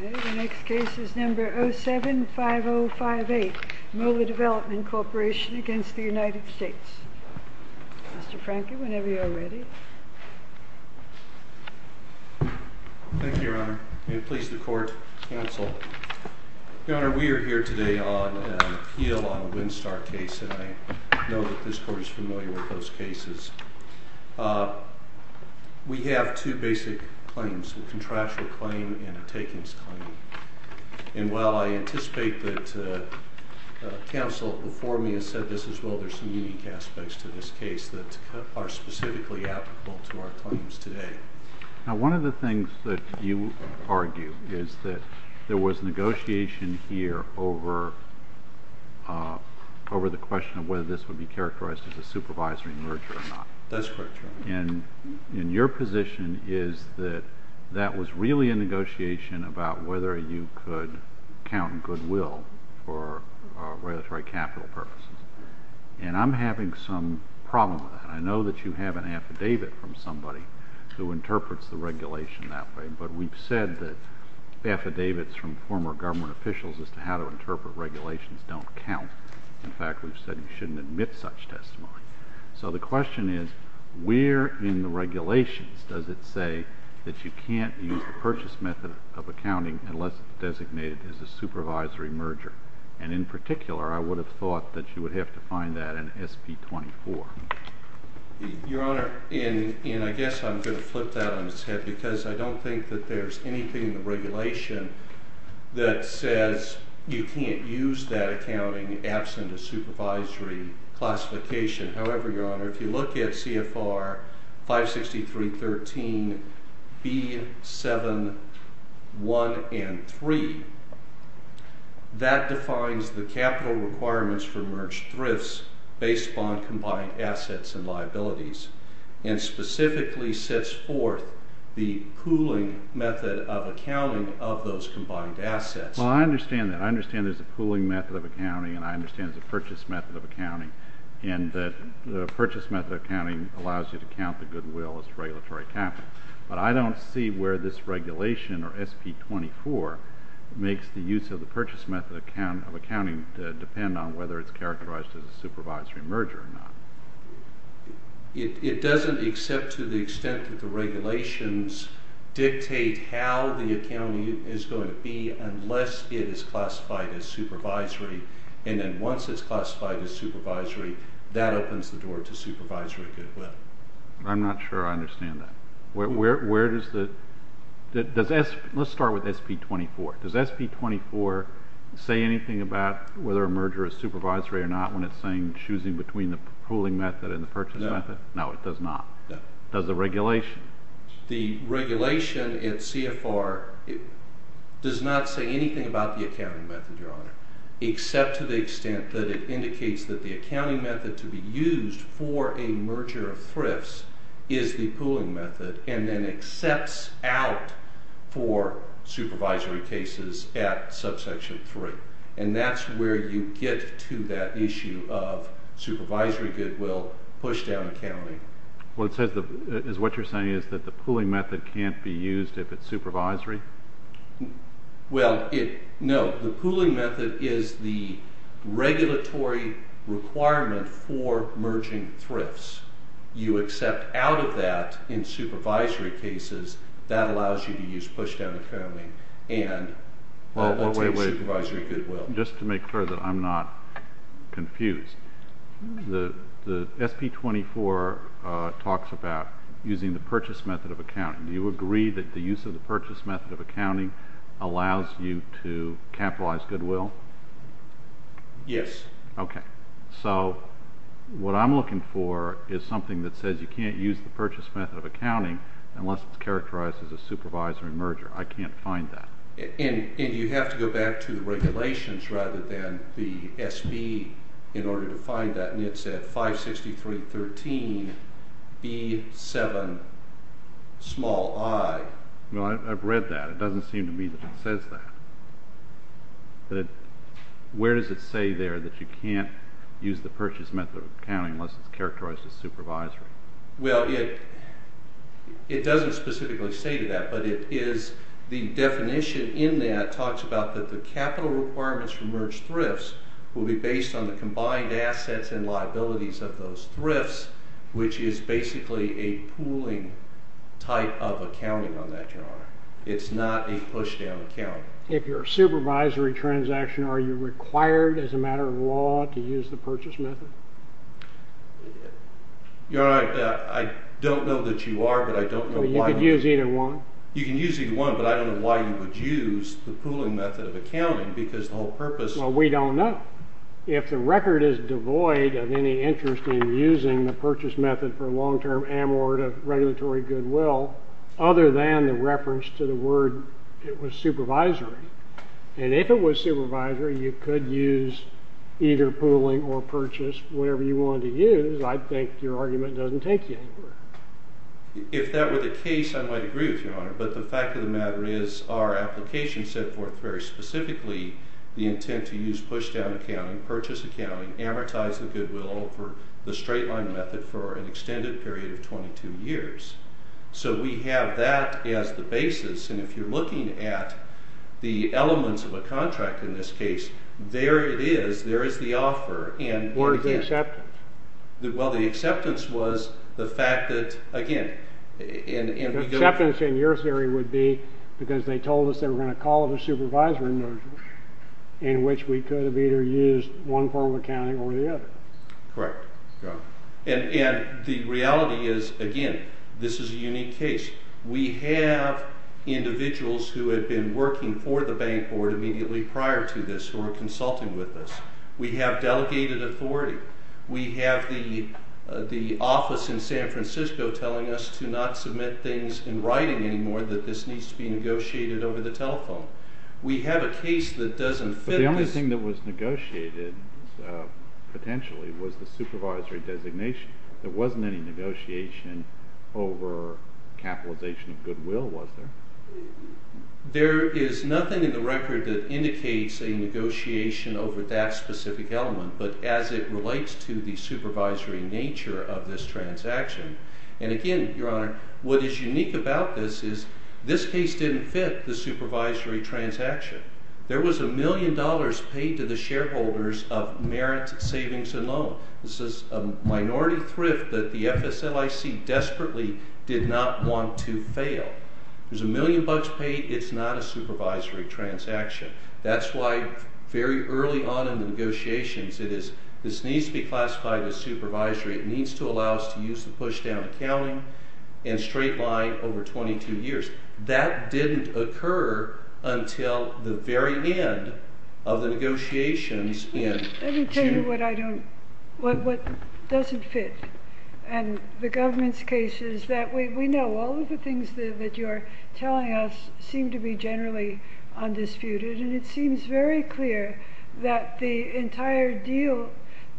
The next case is number 07-5058, Moeller Development Corporation against the United States. Mr. Franke, whenever you're ready. Thank you, Your Honor. May it please the court, counsel. Your Honor, we are here today on an appeal on the Winstar case, and I know that this court is familiar with those cases. We have two basic claims, a contractual claim and a takings claim. And while I anticipate that counsel before me has said this as well, there's some unique aspects to this case that are specifically applicable to our claims today. Now, one of the things that you argue is that there was negotiation here over the question of whether this would be characterized as a supervisory merger or not. That's correct, Your Honor. And your position is that that was really a negotiation about whether you could count in goodwill for regulatory capital purposes. And I'm having some problems with that. I know that you have an affidavit from somebody who interprets the regulation that way. But we've said that affidavits from former government officials as to how to interpret regulations don't count. In fact, we've said you shouldn't admit such testimony. So the question is, where in the regulations does it say that you can't use the purchase method of accounting unless it's designated as a supervisory merger? And in particular, I would have thought that you would have to find that in SP 24. Your Honor, and I guess I'm going to flip that on its head, because I don't think that there's anything in the regulation that says you can't use that accounting absent a supervisory classification. However, Your Honor, if you look at CFR 563.13b.7.1 and 3, that defines the capital requirements for merged thrifts based upon combined assets and liabilities, and specifically sets forth the pooling method of accounting of those combined assets. Well, I understand that. I understand there's a pooling method of accounting, and I understand there's a purchase method of accounting. And the purchase method of accounting allows you to count the goodwill as regulatory capital. But I don't see where this regulation, or SP 24, makes the use of the purchase method of accounting depend on whether it's characterized as a supervisory merger or not. It doesn't, except to the extent that the regulations dictate how the accounting is going to be, unless it is classified as supervisory. And then once it's classified as supervisory, that opens the door to supervisory goodwill. I'm not sure I understand that. Where does the... Let's start with SP 24. Does SP 24 say anything about whether a merger is supervisory or not when it's saying choosing between the pooling method and the purchase method? No, it does not. Does the regulation? The regulation at CFR does not say anything about the accounting method, Your Honor, except to the extent that it indicates that the accounting method to be used for a merger of thrifts is the pooling method, and then accepts out for supervisory cases at subsection 3. And that's where you get to that issue of supervisory goodwill, push-down accounting. What you're saying is that the pooling method can't be used if it's supervisory? Well, no. The pooling method is the regulatory requirement for merging thrifts. You accept out of that in supervisory cases. That allows you to use push-down accounting and obtain supervisory goodwill. Just to make sure that I'm not confused, the SP 24 talks about using the purchase method of accounting. Do you agree that the use of the purchase method of accounting allows you to capitalize goodwill? Yes. So what I'm looking for is something that says you can't use the purchase method of accounting unless it's characterized as a supervisory merger. I can't find that. And you have to go back to the regulations rather than the SP in order to find that, and it's at 563.13B7i. Well, I've read that. It doesn't seem to me that it says that. But where does it say there that you can't use the purchase method of accounting unless it's characterized as supervisory? Well, it doesn't specifically say that, but the definition in that talks about that the capital requirements for merged thrifts will be based on the combined assets and liabilities of those thrifts, which is basically a pooling type of accounting on that, Your Honor. It's not a push-down accounting. If you're a supervisory transaction, are you required as a matter of law to use the purchase method? Your Honor, I don't know that you are, but I don't know why. You could use either one. You can use either one, but I don't know why you would use the pooling method of accounting, because the whole purpose... Well, we don't know. If the record is devoid of any interest in using the purchase method for a long-term amort of regulatory goodwill other than the reference to the word it was supervisory, and if it was supervisory, you could use either pooling or purchase, whatever you wanted to use. I think your argument doesn't take you anywhere. If that were the case, I might agree with you, Your Honor, but the fact of the matter is our application set forth very specifically the intent to use push-down accounting, purchase accounting, amortize the goodwill for the straight-line method for an extended period of 22 years. So we have that as the basis, and if you're looking at the elements of a contract in this case, there it is, there is the offer, and... What is the acceptance? Well, the acceptance was the fact that, again... The acceptance, in your theory, would be because they told us they were going to call it a supervisory measure in which we could have either used one form of accounting or the other. Correct, Your Honor. And the reality is, again, this is a unique case. We have individuals who had been working for the bank board immediately prior to this who were consulting with us. We have delegated authority. We have the office in San Francisco telling us to not submit things in writing anymore, that this needs to be negotiated over the telephone. We have a case that doesn't fit this... But the only thing that was negotiated, potentially, was the supervisory designation. There wasn't any negotiation over capitalization of goodwill, was there? There is nothing in the record that indicates a negotiation over that specific element, but as it relates to the supervisory nature of this transaction. And again, Your Honor, what is unique about this is this case didn't fit the supervisory transaction. There was a million dollars paid to the shareholders of Merit Savings and Loan. This is a minority thrift that the FSLIC desperately did not want to fail. There's a million bucks paid. It's not a supervisory transaction. That's why, very early on in the negotiations, this needs to be classified as supervisory. It needs to allow us to use the push-down accounting and straight-line over 22 years. That didn't occur until the very end of the negotiations in June. Let me tell you what doesn't fit. And the government's case is that... We know all of the things that you're telling us seem to be generally undisputed, and it seems very clear that the entire deal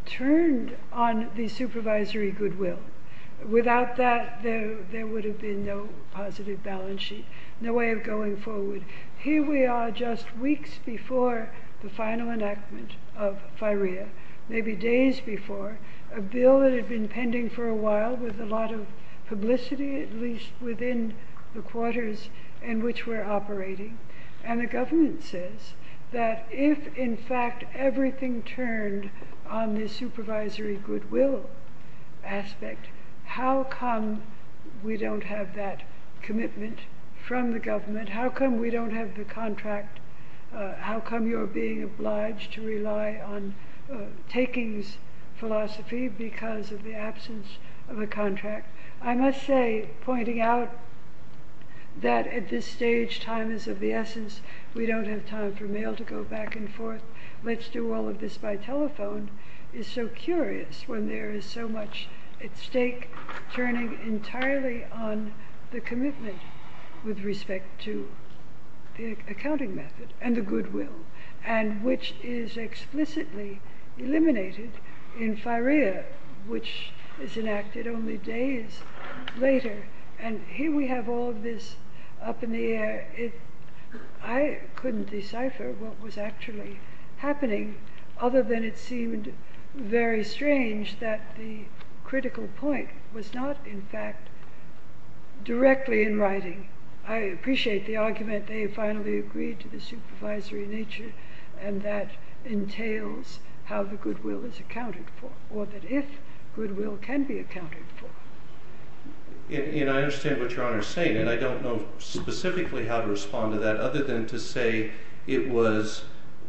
turned on the supervisory goodwill. Without that, there would have been no positive balance sheet, no way of going forward. Here we are just weeks before the final enactment of FIREA, maybe days before, a bill that had been pending for a while with a lot of publicity, at least within the quarters in which we're operating. And the government says that if, in fact, everything turned on the supervisory goodwill aspect, how come we don't have that commitment from the government? How come we don't have the contract? How come you're being obliged to rely on takings philosophy because of the absence of a contract? I must say, pointing out that, at this stage, time is of the essence, we don't have time for mail to go back and forth, let's do all of this by telephone, is so curious when there is so much at stake turning entirely on the commitment with respect to the accounting method and the goodwill, and which is explicitly eliminated in FIREA, which is enacted only days later. And here we have all of this up in the air. I couldn't decipher what was actually happening, other than it seemed very strange that the critical point was not, in fact, directly in writing. I appreciate the argument they finally agreed to the supervisory nature, and that entails how the goodwill is accounted for, or that if goodwill can be accounted for. And I understand what Your Honour is saying, and I don't know specifically how to respond to that, other than to say it was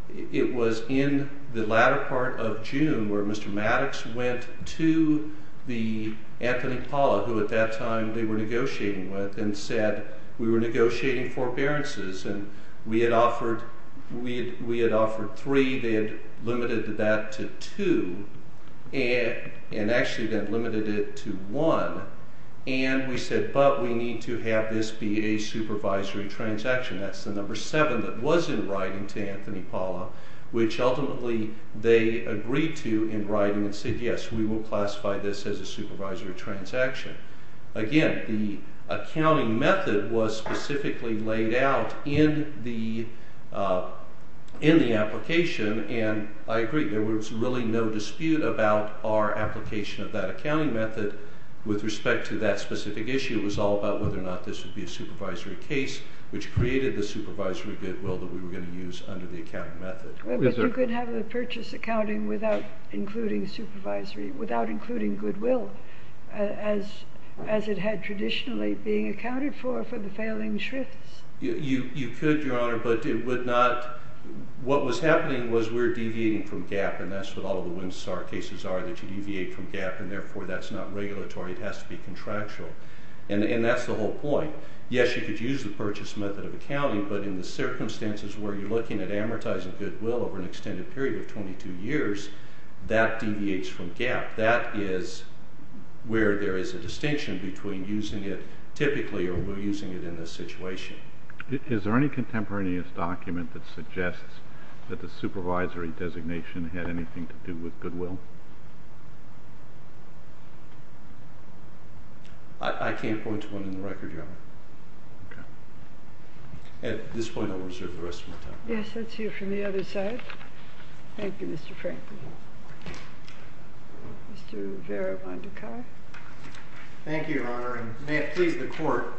in the latter part of June where Mr. Maddox went to Anthony Paula, who at that time they were negotiating with, and said, we were negotiating forbearances, and we had offered three, they had limited that to two, and actually then limited it to one, and we said, but we need to have this be a supervisory transaction. That's the number seven that was in writing to Anthony Paula, which ultimately they agreed to in writing, and said, yes, we will classify this as a supervisory transaction. Again, the accounting method was specifically laid out in the application, and I agree, there was really no dispute about our application of that accounting method with respect to that specific issue. It was all about whether or not this would be a supervisory case which created the supervisory goodwill that we were going to use under the accounting method. But you could have the purchase accounting without including supervisory, without including goodwill, as it had traditionally been accounted for, for the failing shrifts. You could, Your Honour, but it would not, what was happening was we were deviating from GAAP, and that's what all of the WMSAR cases are, that you deviate from GAAP, and therefore that's not regulatory, it has to be contractual. And that's the whole point. Yes, you could use the purchase method of accounting, but in the circumstances where you're looking at amortizing goodwill over an extended period of 22 years, that deviates from GAAP. That is where there is a distinction between using it typically or using it in this situation. Is there any contemporaneous document that suggests that the supervisory designation had anything to do with goodwill? I can't point to one in the record, Your Honour. At this point, I'll reserve the rest of my time. Yes, let's hear from the other side. Thank you, Mr. Franklin. Mr. Rivera-Vandekar. Thank you, Your Honour. And may it please the court,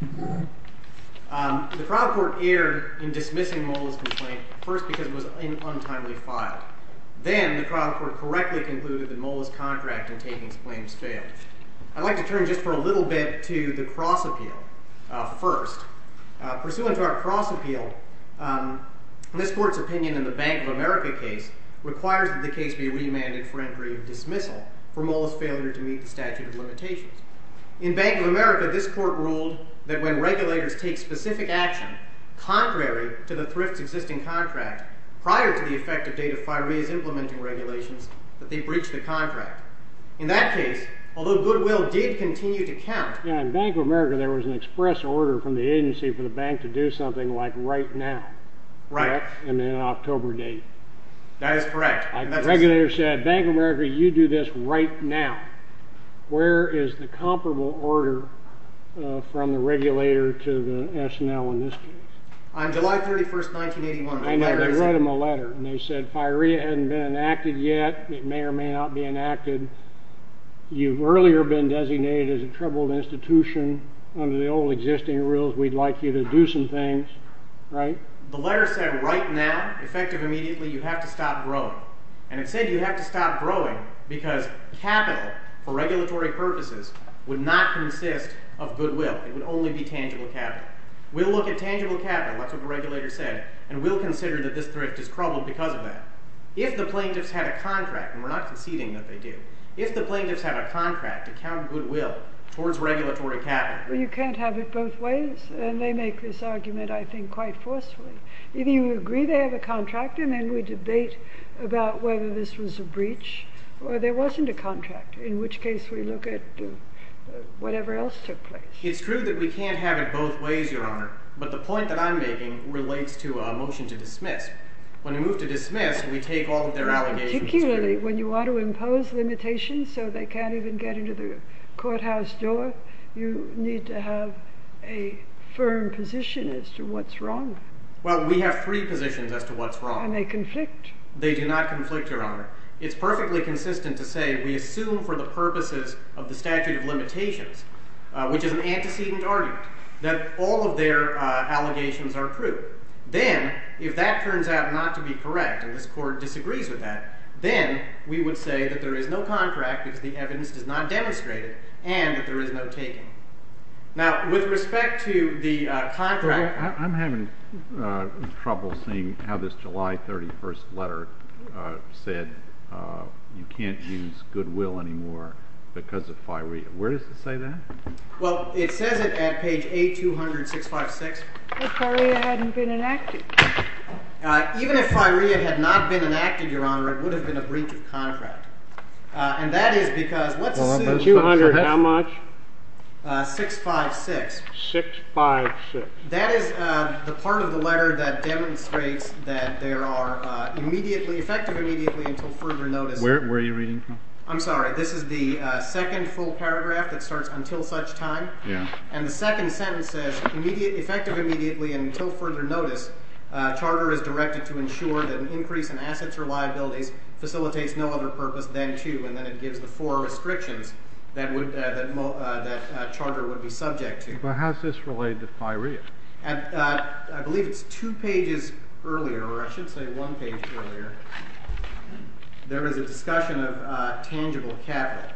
the trial court erred in dismissing Mola's complaint, first because it was untimely filed. Then the trial court correctly concluded that Mola's contract in taking his claims failed. I'd like to turn just for a little bit to the cross appeal first. Pursuant to our cross appeal, this court's opinion in the Bank of America case requires that the case be remanded for entry of dismissal for Mola's failure to meet the statute of limitations. In Bank of America, this court ruled that when regulators take specific action contrary to the thrift's existing contract prior to the effective date of FIRA's implementing regulations, that they breach the contract. In that case, although goodwill did continue to count. Yeah, in Bank of America, there was an express order from the agency for the bank to do something like right now. Right. And then an October date. That is correct. Regulator said, Bank of America, you do this right now. Where is the comparable order from the regulator to the SNL in this case? On July 31st, 1981, I read them a letter. And they said, FIRA hasn't been enacted yet. It may or may not be enacted. You've earlier been designated as a troubled institution. Under the old existing rules, we'd like you to do some things. Right? The letter said, right now, effective immediately, you have to stop growing. And it said you have to stop growing because capital, for regulatory purposes, would not consist of goodwill. It would only be tangible capital. We'll look at tangible capital. That's what the regulator said. And we'll consider that this thrift is troubled because of that. If the plaintiffs had a contract, and we're not conceding that they do, if the plaintiffs have a contract to count goodwill towards regulatory capital. You can't have it both ways. And they make this argument, I think, quite forcefully. If you agree they have a contract, and then we debate about whether this was a breach, or there wasn't a contract, in which case we look at whatever else took place. It's true that we can't have it both ways, Your Honor. But the point that I'm making relates to a motion to dismiss. When we move to dismiss, we take all of their allegations. Particularly when you want to impose limitations so they can't even get into the courthouse door, you need to have a firm position as to what's wrong. Well, we have three positions as to what's wrong. Are they conflict? They do not conflict, Your Honor. It's perfectly consistent to say we assume for the purposes of the statute of limitations, which is an antecedent argument, that all of their allegations are true. Then, if that turns out not to be correct, and this court disagrees with that, then we would say that there is no contract, because the evidence does not demonstrate it, and that there is no taking. Now, with respect to the contract. I'm having trouble seeing how this July 31st letter said you can't use goodwill anymore because of FIREA. Where does it say that? Well, it says it at page A200, 656. But FIREA hadn't been enacted. Even if FIREA had not been enacted, Your Honor, it would have been a breach of contract. And that is because, let's assume 600, how much? 656. 656. That is the part of the letter that demonstrates that there are effective immediately until further notice. Where are you reading from? I'm sorry. This is the second full paragraph that starts, until such time. And the second sentence says, effective immediately until further notice, charter is directed to ensure that an increase in assets or liabilities facilitates no other purpose than to, and then it gives the four restrictions that charter would be subject to. But how's this related to FIREA? I believe it's two pages earlier, or I should say one page earlier. There is a discussion of tangible capital.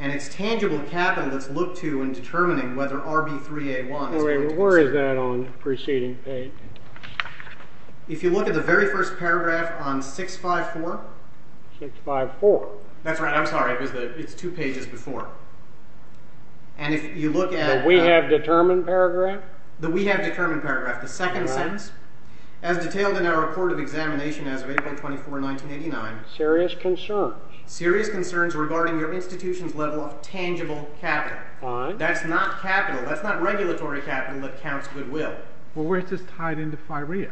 And it's tangible capital that's looked to in determining whether RB3A1 is going to be served. Where is that on the preceding page? If you look at the very first paragraph on 654. 654. That's right. I'm sorry. It's two pages before. And if you look at it. The we have determined paragraph? The we have determined paragraph, the second sentence. As detailed in our report of examination as of April 24, 1989. Serious concerns. Serious concerns regarding your institution's level of tangible capital. That's not capital. That's not regulatory capital that counts goodwill. Well, where's this tied into FIREA?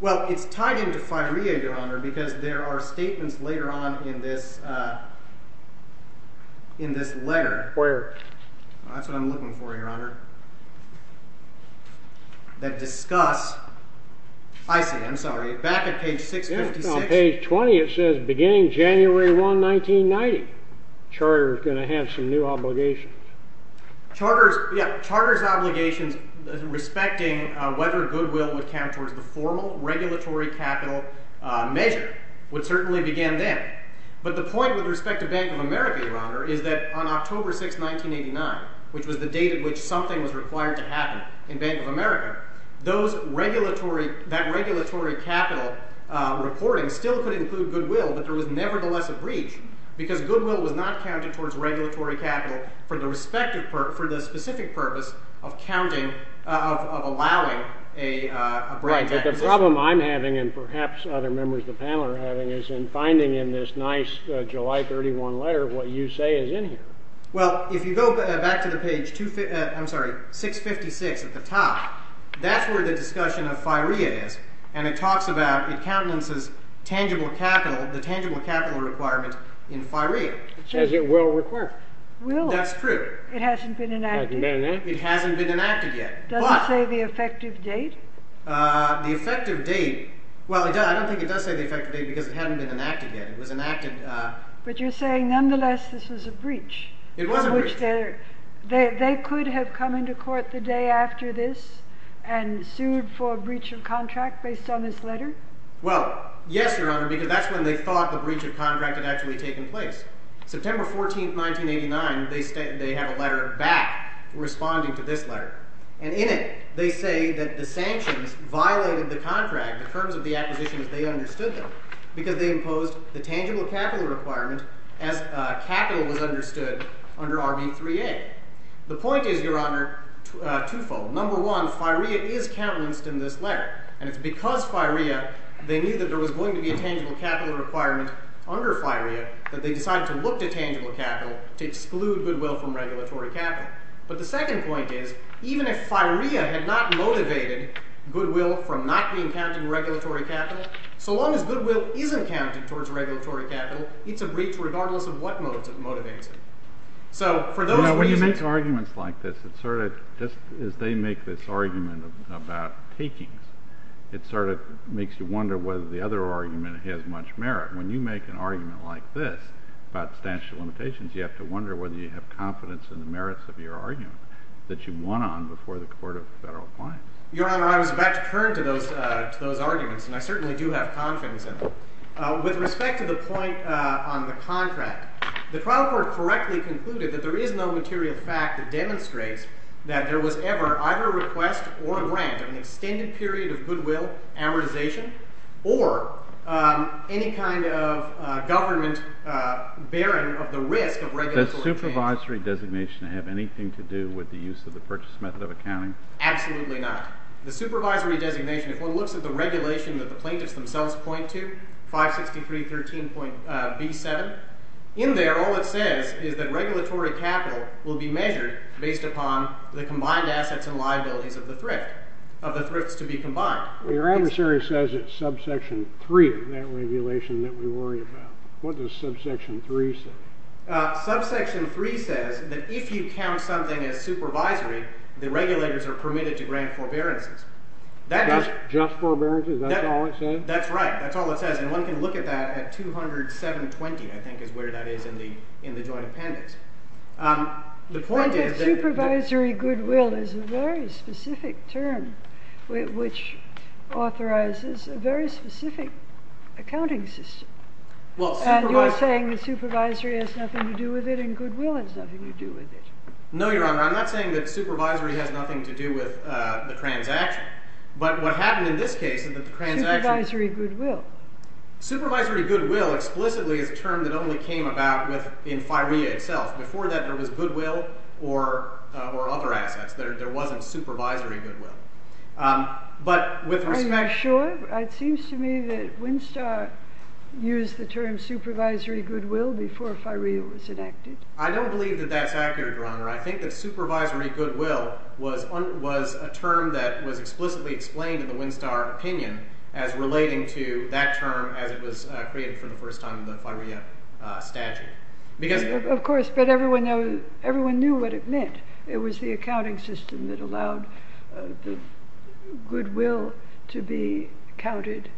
Well, it's tied into FIREA, Your Honor, because there are statements later on in this letter. Where? That's what I'm looking for, Your Honor. That discuss, I see. I'm sorry. Back at page 656. On page 20, it says, beginning January 1, 1990. Charter's going to have some new obligations. Charter's, yeah. Charter's obligations respecting whether goodwill would count towards the formal regulatory capital measure, which certainly began then. But the point with respect to Bank of America, Your Honor, is that on October 6, 1989, which was the date at which something was required to happen in Bank of America, that regulatory capital reporting still could include goodwill. But there was nevertheless a breach, because goodwill was not counted towards regulatory capital for the respective purpose, for the specific purpose of counting, of allowing a branch acquisition. Right, but the problem I'm having, and perhaps other members of the panel are having, is in finding in this nice July 31 letter what you say is in here. Well, if you go back to the page 656 at the top, that's where the discussion of FIREA is. And it talks about it countenances tangible capital, the tangible capital requirement in FIREA. It says it will require. Will. That's true. It hasn't been enacted. It hasn't been enacted yet. Does it say the effective date? The effective date, well, I don't think it does say the effective date, because it hadn't been enacted yet. It was enacted. But you're saying, nonetheless, this was a breach. It was a breach. They could have come into court the day after this and sued for breach of contract based on this letter? Well, yes, Your Honor, because that's when they thought the breach of contract had actually taken place. September 14, 1989, they have a letter back responding to this letter. And in it, they say that the sanctions violated the contract, the terms of the acquisitions, they understood them. Because they imposed the tangible capital requirement as capital was understood under RV3A. The point is, Your Honor, twofold. Number one, FIREA is countenanced in this letter. And it's because FIREA, they knew that there was going to be a tangible capital requirement under FIREA, that they decided to look to tangible capital to exclude goodwill from regulatory capital. But the second point is, even if FIREA had not motivated goodwill from not being counted in regulatory capital, so long as goodwill isn't counted towards regulatory capital, it's a breach, regardless of what modes it motivates it. So for those reasons. When you make arguments like this, just as they make this argument about takings, it sort of makes you wonder whether the other argument has much merit. When you make an argument like this about the statute of limitations, you have to wonder whether you have confidence in the merits of your argument that you won on before the Court of Federal Appliance. Your Honor, I was about to turn to those arguments. And I certainly do have confidence in them. With respect to the point on the contract, the trial court correctly concluded that there is no material fact that demonstrates that there was ever either a request or a grant of an extended period of goodwill, amortization, or any kind of government bearing of the risk of regulatory transfer. Does supervisory designation have anything to do with the use of the purchase method of accounting? Absolutely not. The supervisory designation, if one looks at the regulation that the plaintiffs themselves point to, 563.13.B7, in there, all it says is that regulatory capital will be measured based upon the combined assets and liabilities of the thrift, of the thrifts to be combined. Well, your adversary says it's subsection 3, that regulation that we worry about. What does subsection 3 say? Subsection 3 says that if you count something as supervisory, the regulators are permitted to grant forbearances. Just forbearances, that's all it says? That's right. That's all it says. And one can look at that at 207.20, I think, is where that is in the joint appendix. The point is that the supervisory goodwill is a very specific term, which authorizes a very specific accounting system. And you're saying the supervisory has nothing to do with it, and goodwill has nothing to do with it. No, Your Honor, I'm not saying that supervisory has nothing to do with the transaction. But what happened in this case is that the transaction Supervisory goodwill. Supervisory goodwill, explicitly, is a term that only came about in FIREA itself. Before that, there was goodwill or other assets that there wasn't supervisory goodwill. But with respect to that. Are you sure? It seems to me that Winstar used the term supervisory goodwill before FIREA was enacted. I don't believe that that's accurate, Your Honor. I think that supervisory goodwill was a term that was explicitly explained in the Winstar opinion as relating to that term as it was created for the first time in the FIREA statute. Of course, but everyone knew what it meant. It was the accounting system that allowed the goodwill to be counted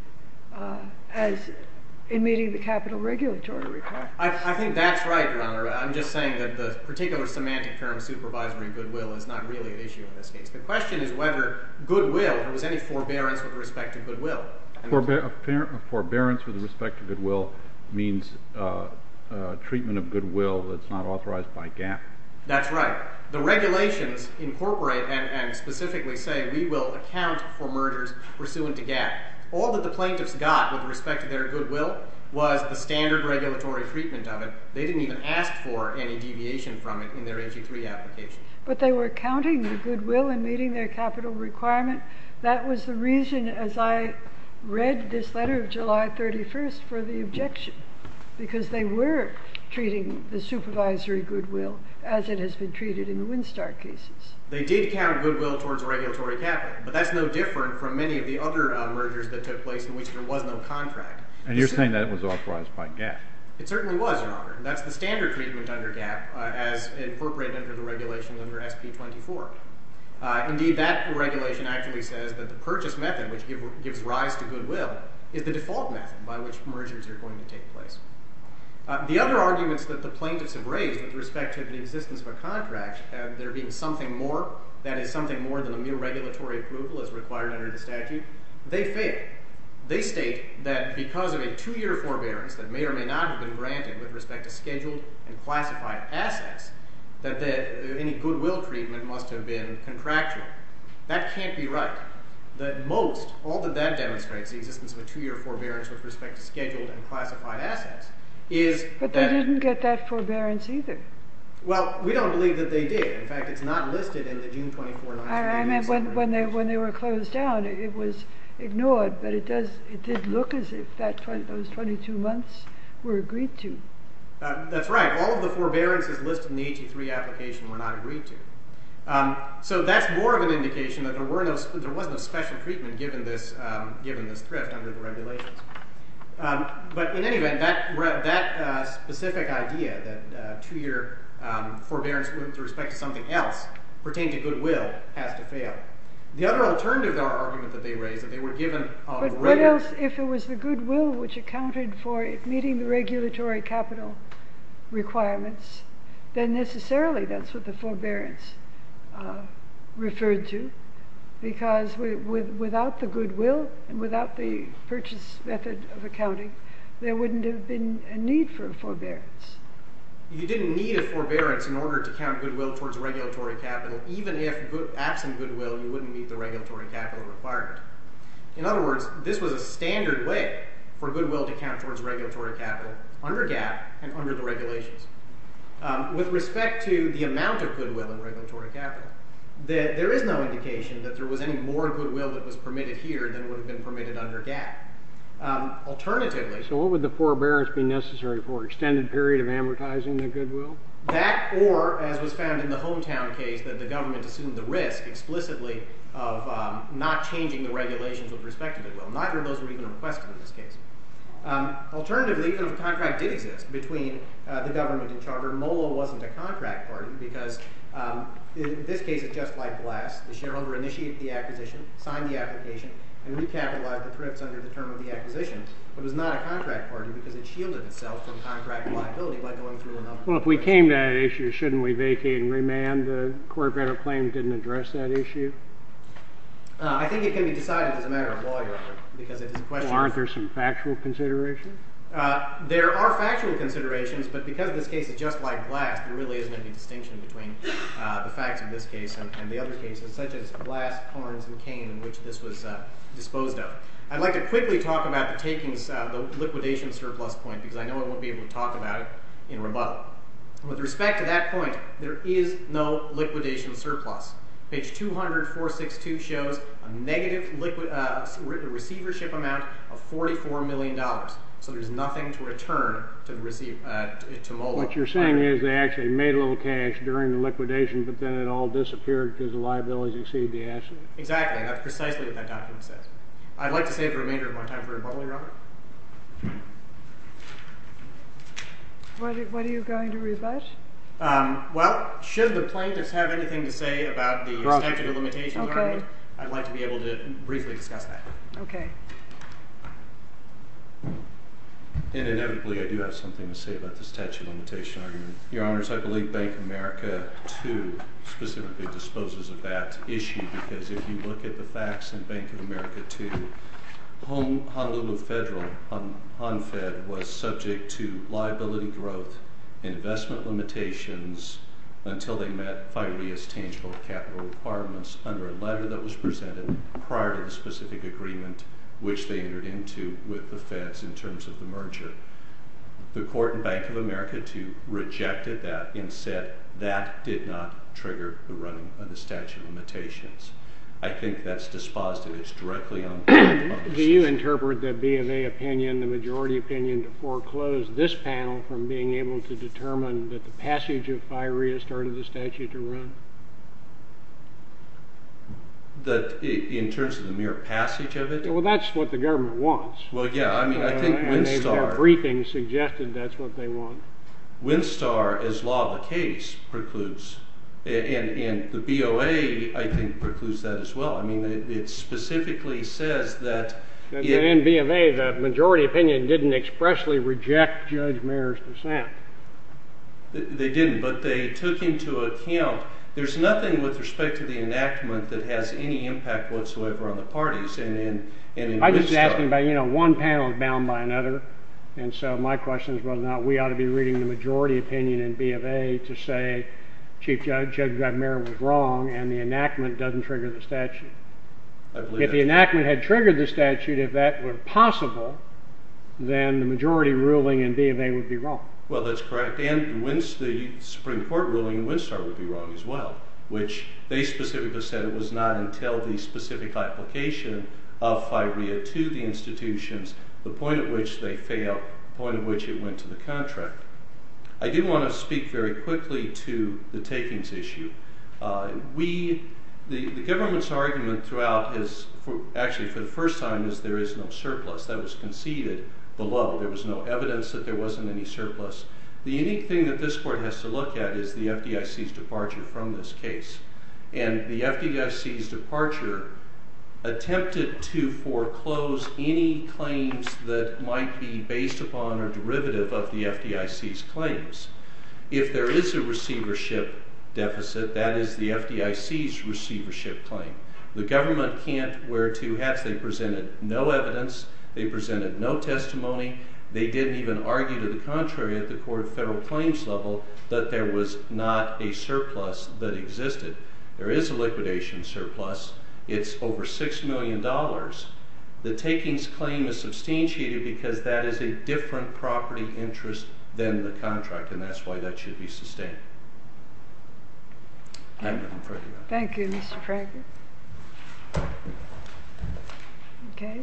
as in meeting the capital regulatory requirements. I think that's right, Your Honor. I'm just saying that the particular semantic term supervisory goodwill is not really an issue in this case. The question is whether goodwill or was any forbearance with respect to goodwill. Forbearance with respect to goodwill means treatment of goodwill that's not authorized by GAAP. That's right. The regulations incorporate and specifically say we will account for mergers pursuant to GAAP. All that the plaintiffs got with respect to their goodwill was the standard regulatory treatment of it. They didn't even ask for any deviation from it in their HE3 application. But they were counting the goodwill and meeting their capital requirement. That was the reason, as I read this letter of July 31st, for the objection. Because they were treating the supervisory goodwill as it has been treated in the Windstar cases. They did count goodwill towards regulatory capital. But that's no different from many of the other mergers that took place in which there was no contract. And you're saying that it was authorized by GAAP. It certainly was, Your Honor. That's the standard treatment under GAAP as incorporated under the regulations under SP24. Indeed, that regulation actually says that the purchase method, which gives rise to goodwill, is the default method by which mergers are going to take place. The other arguments that the plaintiffs have raised with respect to the existence of a contract, there being something more, that is, something more than a mere regulatory approval as required under the statute, they fail. They state that because of a two-year forbearance that may or may not have been granted with respect to scheduled and classified assets, that any goodwill treatment must have been contractual. That can't be right. That most, all that that demonstrates, the existence of a two-year forbearance with respect to scheduled and classified assets, is that. But they didn't get that forbearance either. Well, we don't believe that they did. In fact, it's not listed in the June 24, 1987 regulation. I mean, when they were closed down, it was ignored. But it did look as if those 22 months were agreed to. That's right. All of the forbearances listed in the 83 application were not agreed to. So that's more of an indication that there was no special treatment given this thrift under the regulations. But in any event, that specific idea, that two-year forbearance with respect to something else pertained to goodwill, has to fail. The other alternative argument that they raised, that they were given on a regular basis. But what else if it was the goodwill which accounted for it meeting the regulatory capital requirements? Then necessarily, that's what the forbearance referred to. Because without the goodwill, and without the purchase method of accounting, there wouldn't have been a need for a forbearance. You didn't need a forbearance in order to count goodwill towards regulatory capital, even if absent goodwill, you wouldn't meet the regulatory capital requirement. In other words, this was a standard way for goodwill to count towards regulatory capital under GAAP and under the regulations. With respect to the amount of goodwill in regulatory capital, there is no indication that there was any more goodwill that was permitted here than would have been permitted under GAAP. Alternatively, so what would the forbearance be necessary for? Extended period of amortizing the goodwill? That or, as was found in the hometown case, that the government assumed the risk explicitly of not changing the regulations with respect to goodwill. Neither of those were even requested in this case. Alternatively, even if a contract did exist between the government and charter, MOLA wasn't a contract party. Because in this case, it's just like BLAST. The shareholder initiated the acquisition, signed the application, and recapitalized the thrifts under the term of the acquisition. But it was not a contract party because it shielded itself from contract liability by going through another process. Well, if we came to that issue, shouldn't we vacate and remand? The court better claim didn't address that issue? I think it can be decided as a matter of lawyer. Because it is a question of Well, aren't there some factual considerations? There are factual considerations. But because this case is just like BLAST, there really isn't any distinction between the facts of this case and the other cases, such as BLAST, Horns, and Kane, in which this was disposed of. I'd like to quickly talk about the liquidation surplus point, because I know I won't be able to talk about it in rebuttal. With respect to that point, there is no liquidation surplus. Page 200, 462 shows a negative receivership amount of $44 million. So there's nothing to return to MOLA. What you're saying is they actually made a little cash during the liquidation, but then it all was exceeded, they actually? Exactly. That's precisely what that document says. I'd like to save the remainder of my time for rebuttal, Your Honor. What are you going to rebut? Well, should the plaintiffs have anything to say about the statute of limitations argument, I'd like to be able to briefly discuss that. OK. And inevitably, I do have something to say about the statute of limitations argument. Your Honors, I believe Bank of America, too, specifically, disposes of that issue. Because if you look at the facts in Bank of America, too, Honolulu Federal, HonFed, was subject to liability growth, investment limitations, until they met FIREA's tangible capital requirements under a letter that was presented prior to the specific agreement which they entered into with the Feds in terms of the merger. The court in Bank of America, too, rejected that and said that did not trigger the running of the statute of limitations. I think that's dispositive. It's directly on the court's purposes. Do you interpret the BMA opinion, the majority opinion, to foreclose this panel from being able to determine that the passage of FIREA started the statute to run? In terms of the mere passage of it? Well, that's what the government wants. Well, yeah. I mean, I think Winstar. And their briefing suggested that's what they want. Winstar, as law of the case, precludes. And the BOA, I think, precludes that, as well. I mean, it specifically says that in BMA, the majority opinion didn't expressly reject Judge Mayer's dissent. They didn't. But they took into account there's nothing with respect to the enactment that has any impact whatsoever on the parties. And in Winstar. I'm just asking about one panel is bound by another. And so my question is whether or not we ought to be reading the majority opinion in BMA to say, Chief Judge, Judge Mayer was wrong. And the enactment doesn't trigger the statute. If the enactment had triggered the statute, if that were possible, then the majority ruling in BMA would be wrong. Well, that's correct. And the Supreme Court ruling in Winstar would be wrong, as well, which they specifically said it was not until the specific application of FIREA to the institutions, the point at which they failed, the point at which it went to the contract. I do want to speak very quickly to the takings issue. The government's argument throughout is, actually, for the first time, is there is no surplus. That was conceded below. There was no evidence that there wasn't any surplus. The unique thing that this court has to look at is the FDIC's departure from this case. And the FDIC's departure attempted to foreclose any claims that might be based upon or derivative of the FDIC's claims. If there is a receivership deficit, that is the FDIC's receivership claim. The government can't wear two hats. They presented no evidence. They presented no testimony. They didn't even argue to the contrary at the court of federal claims level that there was not a surplus that existed. There is a liquidation surplus. It's over $6 million. The takings claim is substantiated because that is a different property interest than the contract, and that's why that should be sustained. Thank you, Mr. Franklin. Okay.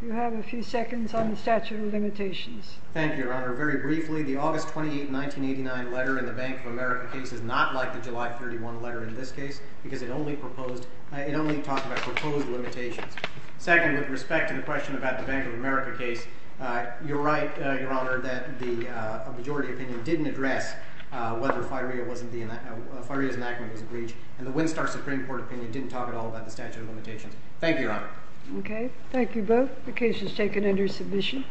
Do you have a few seconds on the statute of limitations? Thank you, Your Honor. Very briefly, the August 28, 1989 letter in the Bank of America case is not like the July 31 letter in this case because it only talked about proposed limitations. Second, with respect to the question about the Bank of America case, you're right, Your Honor, that the majority opinion didn't address whether FIREA's enactment was a breach, and the Winstar Supreme Court opinion didn't talk at all about the statute of limitations. Thank you, Your Honor. Okay. Thank you both. The case is taken under submission.